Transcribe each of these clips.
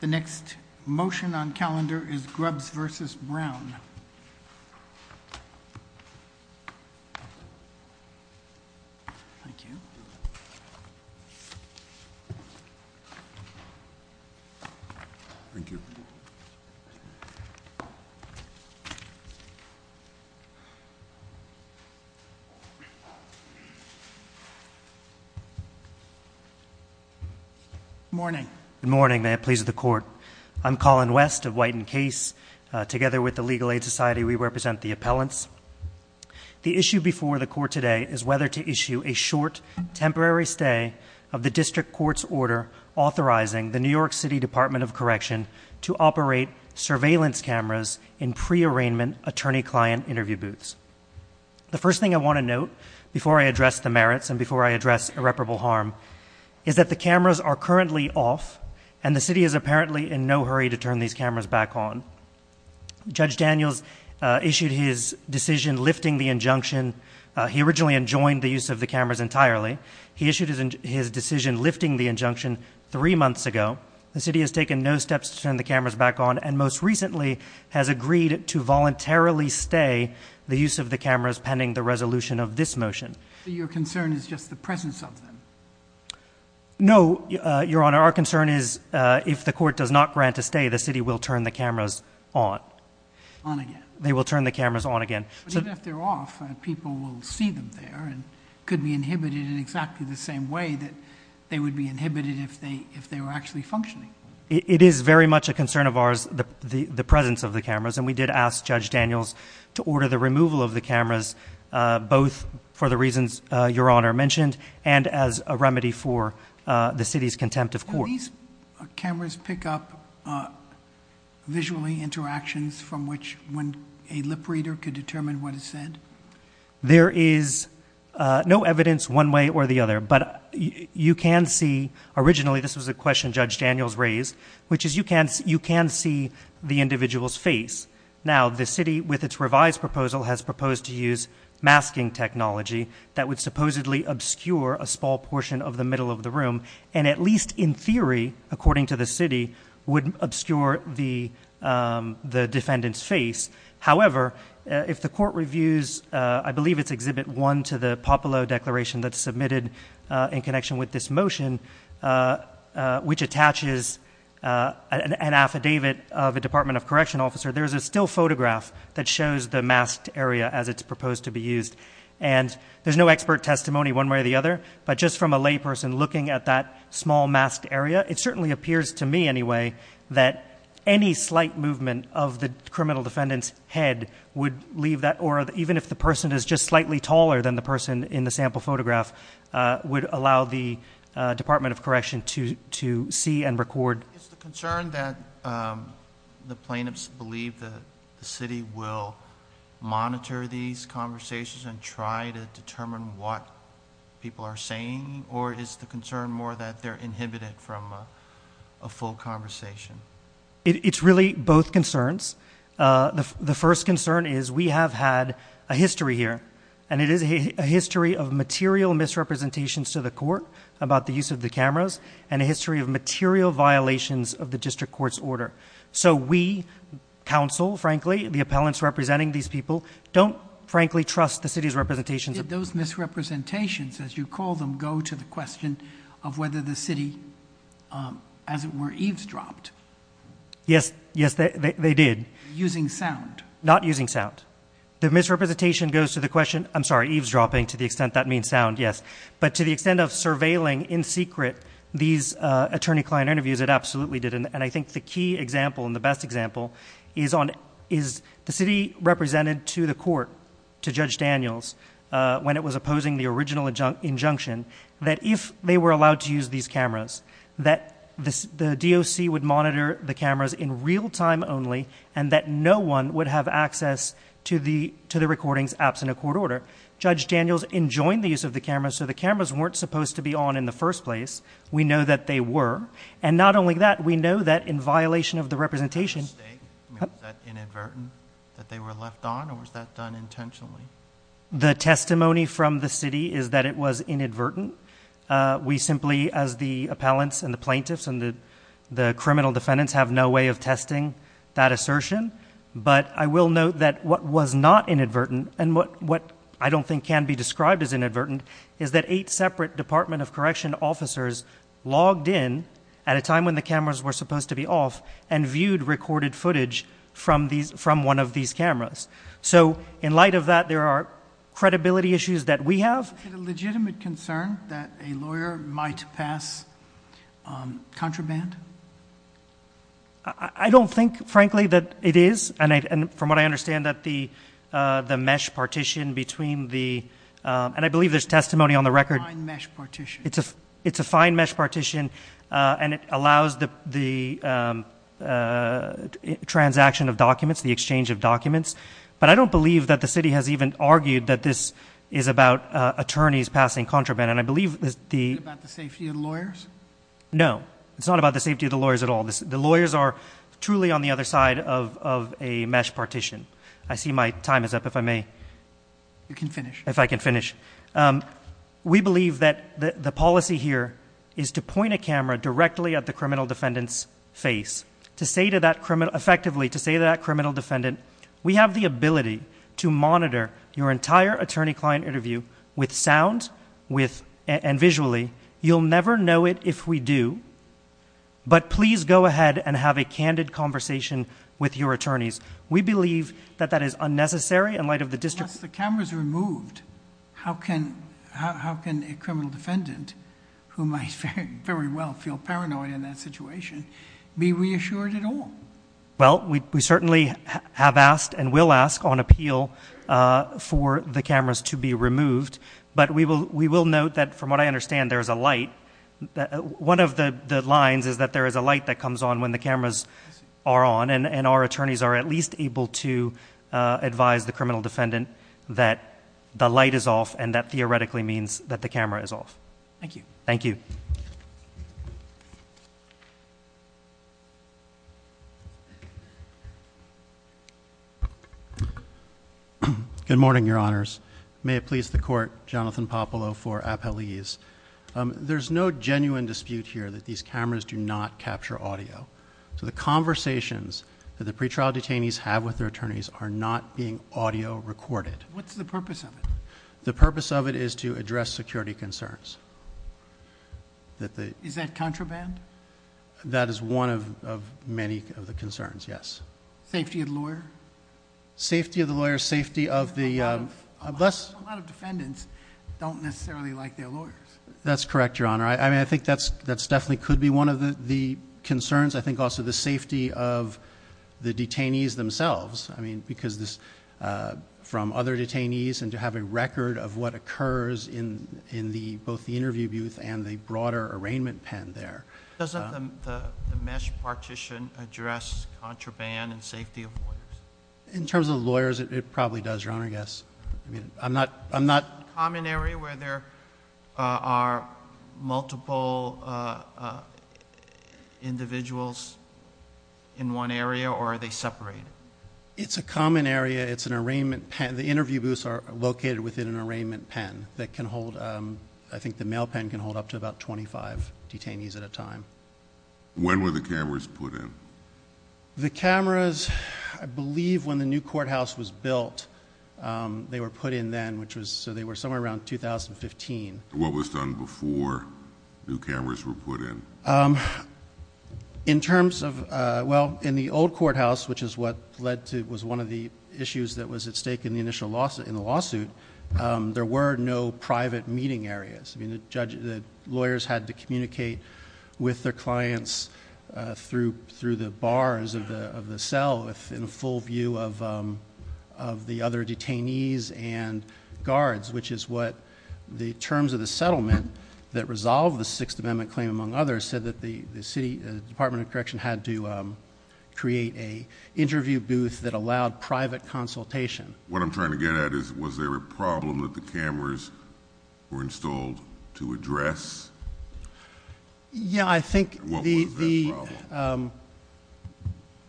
The next motion on calendar is Grubbs v. Brown. Good morning. Good morning. May it please the Court. I'm Colin West of White & Case. Together with the Legal Aid Society, we represent the appellants. The issue before the Court today is whether to issue a short, temporary stay of the district court's order authorizing the New York City Department of Correction to operate surveillance cameras in pre-arraignment attorney-client interview booths. The first thing I want to note before I address the merits and before I address irreparable harm is that the cameras are currently off and the city is apparently in no hurry to turn these cameras back on. Judge Daniels issued his decision lifting the injunction. He originally enjoined the use of the cameras entirely. He issued his decision lifting the injunction three months ago. The city has taken no steps to turn the cameras back on and, most recently, has agreed to voluntarily stay the use of the cameras pending the resolution of this motion. So your concern is just the presence of them? No, Your Honor. Our concern is if the court does not grant a stay, the city will turn the cameras on. On again. They will turn the cameras on again. But even if they're off, people will see them there and could be inhibited in exactly the same way that they would be inhibited if they were actually functioning. It is very much a concern of ours, the presence of the cameras, and we did ask Judge Daniels to order the removal of the cameras, both for the reasons Your Honor mentioned and as a remedy for the city's contempt of court. Can these cameras pick up visually interactions from which a lip reader could determine what is said? There is no evidence one way or the other, but you can see. Now, the city, with its revised proposal, has proposed to use masking technology that would supposedly obscure a small portion of the middle of the room and at least in theory, according to the city, would obscure the defendant's face. However, if the court reviews, I believe it's Exhibit 1 to the Popolo Declaration that's submitted in connection with this motion, which attaches an affidavit of a Department of Correction officer, there's a still photograph that shows the masked area as it's proposed to be used. And there's no expert testimony one way or the other, but just from a layperson looking at that small masked area, it certainly appears to me anyway that any slight movement of the criminal defendant's head would leave that aura, even if the person is just slightly taller than the person in the sample photograph, would allow the Department of Correction to see and record. Is the concern that the plaintiffs believe that the city will monitor these conversations and try to determine what people are saying, or is the concern more that they're inhibited from a full conversation? It's really both concerns. The first concern is we have had a history here, and it is a history of material misrepresentations to the court about the use of the cameras and a history of material violations of the district court's order. So we, counsel, frankly, the appellants representing these people, don't frankly trust the city's representations. Did those misrepresentations, as you call them, go to the question of whether the city, as it were, eavesdropped? Yes, yes, they did. Using sound? Not using sound. The misrepresentation goes to the question, I'm sorry, eavesdropping, to the extent that means sound, yes. But to the extent of surveilling in secret these attorney-client interviews, it absolutely did. And I think the key example and the best example is the city represented to the court, to Judge Daniels, when it was opposing the original injunction, that if they were allowed to use these cameras, that the DOC would monitor the cameras in real time only, and that no one would have access to the recordings absent a court order. Judge Daniels enjoined the use of the cameras, so the cameras weren't supposed to be on in the first place. We know that they were. And not only that, we know that in violation of the representation- Was that inadvertent, that they were left on, or was that done intentionally? The testimony from the city is that it was inadvertent. We simply, as the appellants and the plaintiffs and the criminal defendants, have no way of testing that assertion. But I will note that what was not inadvertent, and what I don't think can be described as inadvertent, is that eight separate Department of Correction officers logged in at a time when the cameras were supposed to be off and viewed recorded footage from one of these cameras. So in light of that, there are credibility issues that we have. Is it a legitimate concern that a lawyer might pass contraband? I don't think, frankly, that it is. And from what I understand, that the mesh partition between the- And I believe there's testimony on the record- Fine mesh partition. It's a fine mesh partition, and it allows the transaction of documents, the exchange of documents. But I don't believe that the city has even argued that this is about attorneys passing contraband. Is it about the safety of the lawyers? No. It's not about the safety of the lawyers at all. The lawyers are truly on the other side of a mesh partition. I see my time is up, if I may. You can finish. If I can finish. We believe that the policy here is to point a camera directly at the criminal defendant's face, effectively to say to that criminal defendant, we have the ability to monitor your entire attorney-client interview with sound and visually. You'll never know it if we do, but please go ahead and have a candid conversation with your attorneys. We believe that that is unnecessary in light of the district- Yes, the camera's removed. How can a criminal defendant, who might very well feel paranoid in that situation, be reassured at all? Well, we certainly have asked and will ask on appeal for the cameras to be removed, but we will note that, from what I understand, there is a light. One of the lines is that there is a light that comes on when the cameras are on, and our attorneys are at least able to advise the criminal defendant that the light is off, and that theoretically means that the camera is off. Thank you. Thank you. Good morning, Your Honors. May it please the Court, Jonathan Popolo for appellees. There's no genuine dispute here that these cameras do not capture audio, so the conversations that the pretrial detainees have with their attorneys are not being audio recorded. What's the purpose of it? The purpose of it is to address security concerns. Is that contraband? That is one of many of the concerns, yes. Safety of the lawyer? Safety of the lawyer, safety of the... A lot of defendants don't necessarily like their lawyers. That's correct, Your Honor. I think that definitely could be one of the concerns. I think also the safety of the detainees themselves, because from other detainees and to have a record of what occurs in both the interview booth and the broader arraignment pen there... Doesn't the MeSH partition address contraband and safety of lawyers? In terms of lawyers, it probably does, Your Honor, I guess. I'm not... Is it a common area where there are multiple individuals in one area, or are they separated? It's a common area. It's an arraignment pen. The interview booths are located within an arraignment pen that can hold... I think the mail pen can hold up to about 25 detainees at a time. When were the cameras put in? The cameras, I believe when the new courthouse was built, they were put in then, so they were somewhere around 2015. What was done before new cameras were put in? In terms of... Well, in the old courthouse, which is what led to... was one of the issues that was at stake in the initial lawsuit, there were no private meeting areas. The lawyers had to communicate with their clients through the bars of the cell, in full view of the other detainees and guards, which is what the terms of the settlement that resolved the Sixth Amendment claim, among others, said that the Department of Correction had to create an interview booth that allowed private consultation. What I'm trying to get at is, was there a problem that the cameras were installed to address? Yeah, I think the... What was that problem?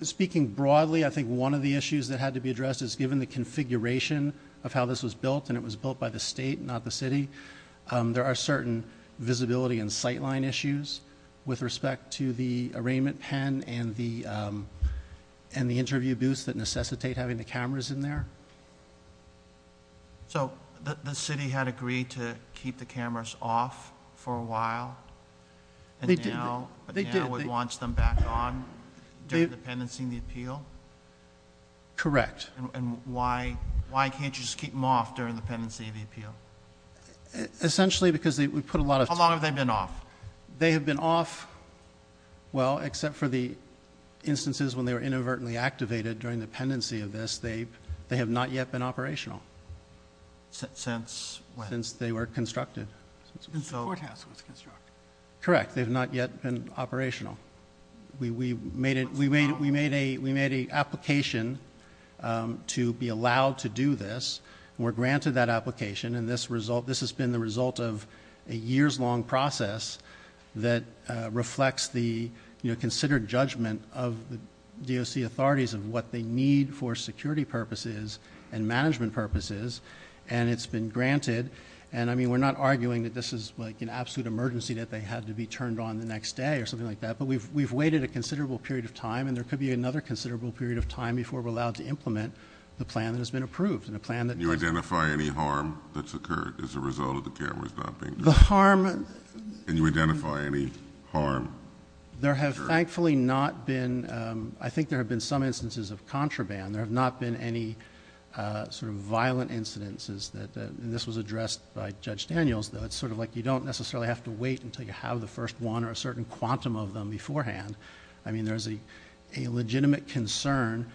Speaking broadly, I think one of the issues that had to be addressed is, given the configuration of how this was built, and it was built by the state, not the city, there are certain visibility and sightline issues with respect to the arraignment pen and the interview booths that necessitate having the cameras in there. So the city had agreed to keep the cameras off for a while, and now it wants them back on during the pendency of the appeal? Correct. And why can't you just keep them off during the pendency of the appeal? Essentially because we put a lot of... How long have they been off? They have been off, well, except for the instances when they were inadvertently activated during the pendency of this, they have not yet been operational. Since when? Since they were constructed. Since the courthouse was constructed. Correct. They have not yet been operational. We made an application to be allowed to do this, and we're granted that application, and this has been the result of a years-long process that reflects the considered judgment of the DOC authorities of what they need for security purposes and management purposes, and it's been granted. And, I mean, we're not arguing that this is like an absolute emergency that they had to be turned on the next day or something like that, but we've waited a considerable period of time, and there could be another considerable period of time before we're allowed to implement the plan that has been approved. Can you identify any harm that's occurred as a result of the cameras not being turned on? The harm... Can you identify any harm that's occurred? There have thankfully not been... I think there have been some instances of contraband. There have not been any sort of violent incidences that... And this was addressed by Judge Daniels, though. It's sort of like you don't necessarily have to wait until you have the first one or a certain quantum of them beforehand. I mean, there's a legitimate concern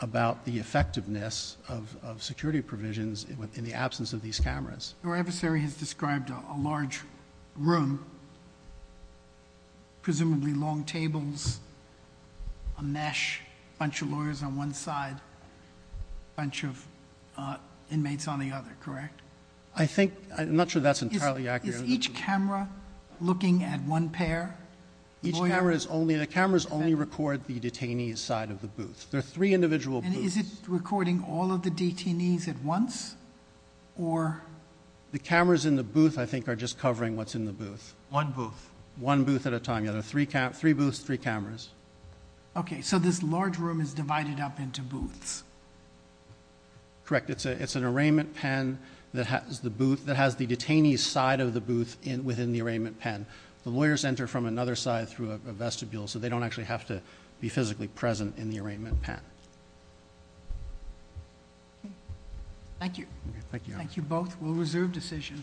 about the effectiveness of security provisions in the absence of these cameras. Your adversary has described a large room, presumably long tables, a mesh, a bunch of lawyers on one side, a bunch of inmates on the other. Correct? I think... I'm not sure that's entirely accurate. Is each camera looking at one pair? Each camera is only... the cameras only record the detainee's side of the booth. There are three individual booths. And is it recording all of the detainees at once, or... The cameras in the booth, I think, are just covering what's in the booth. One booth. One booth at a time. Yeah, there are three booths, three cameras. Okay, so this large room is divided up into booths. Correct. It's an arraignment pen that has the booth... that has the detainee's side of the booth within the arraignment pen. The lawyers enter from another side through a vestibule, so they don't actually have to be physically present in the arraignment pen. Thank you. Thank you. Thank you both. We'll reserve decision.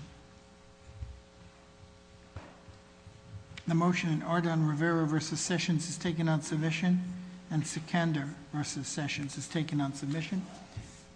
The motion in Arden-Rivera v. Sessions is taken on submission. And Secunder v. Sessions is taken on submission.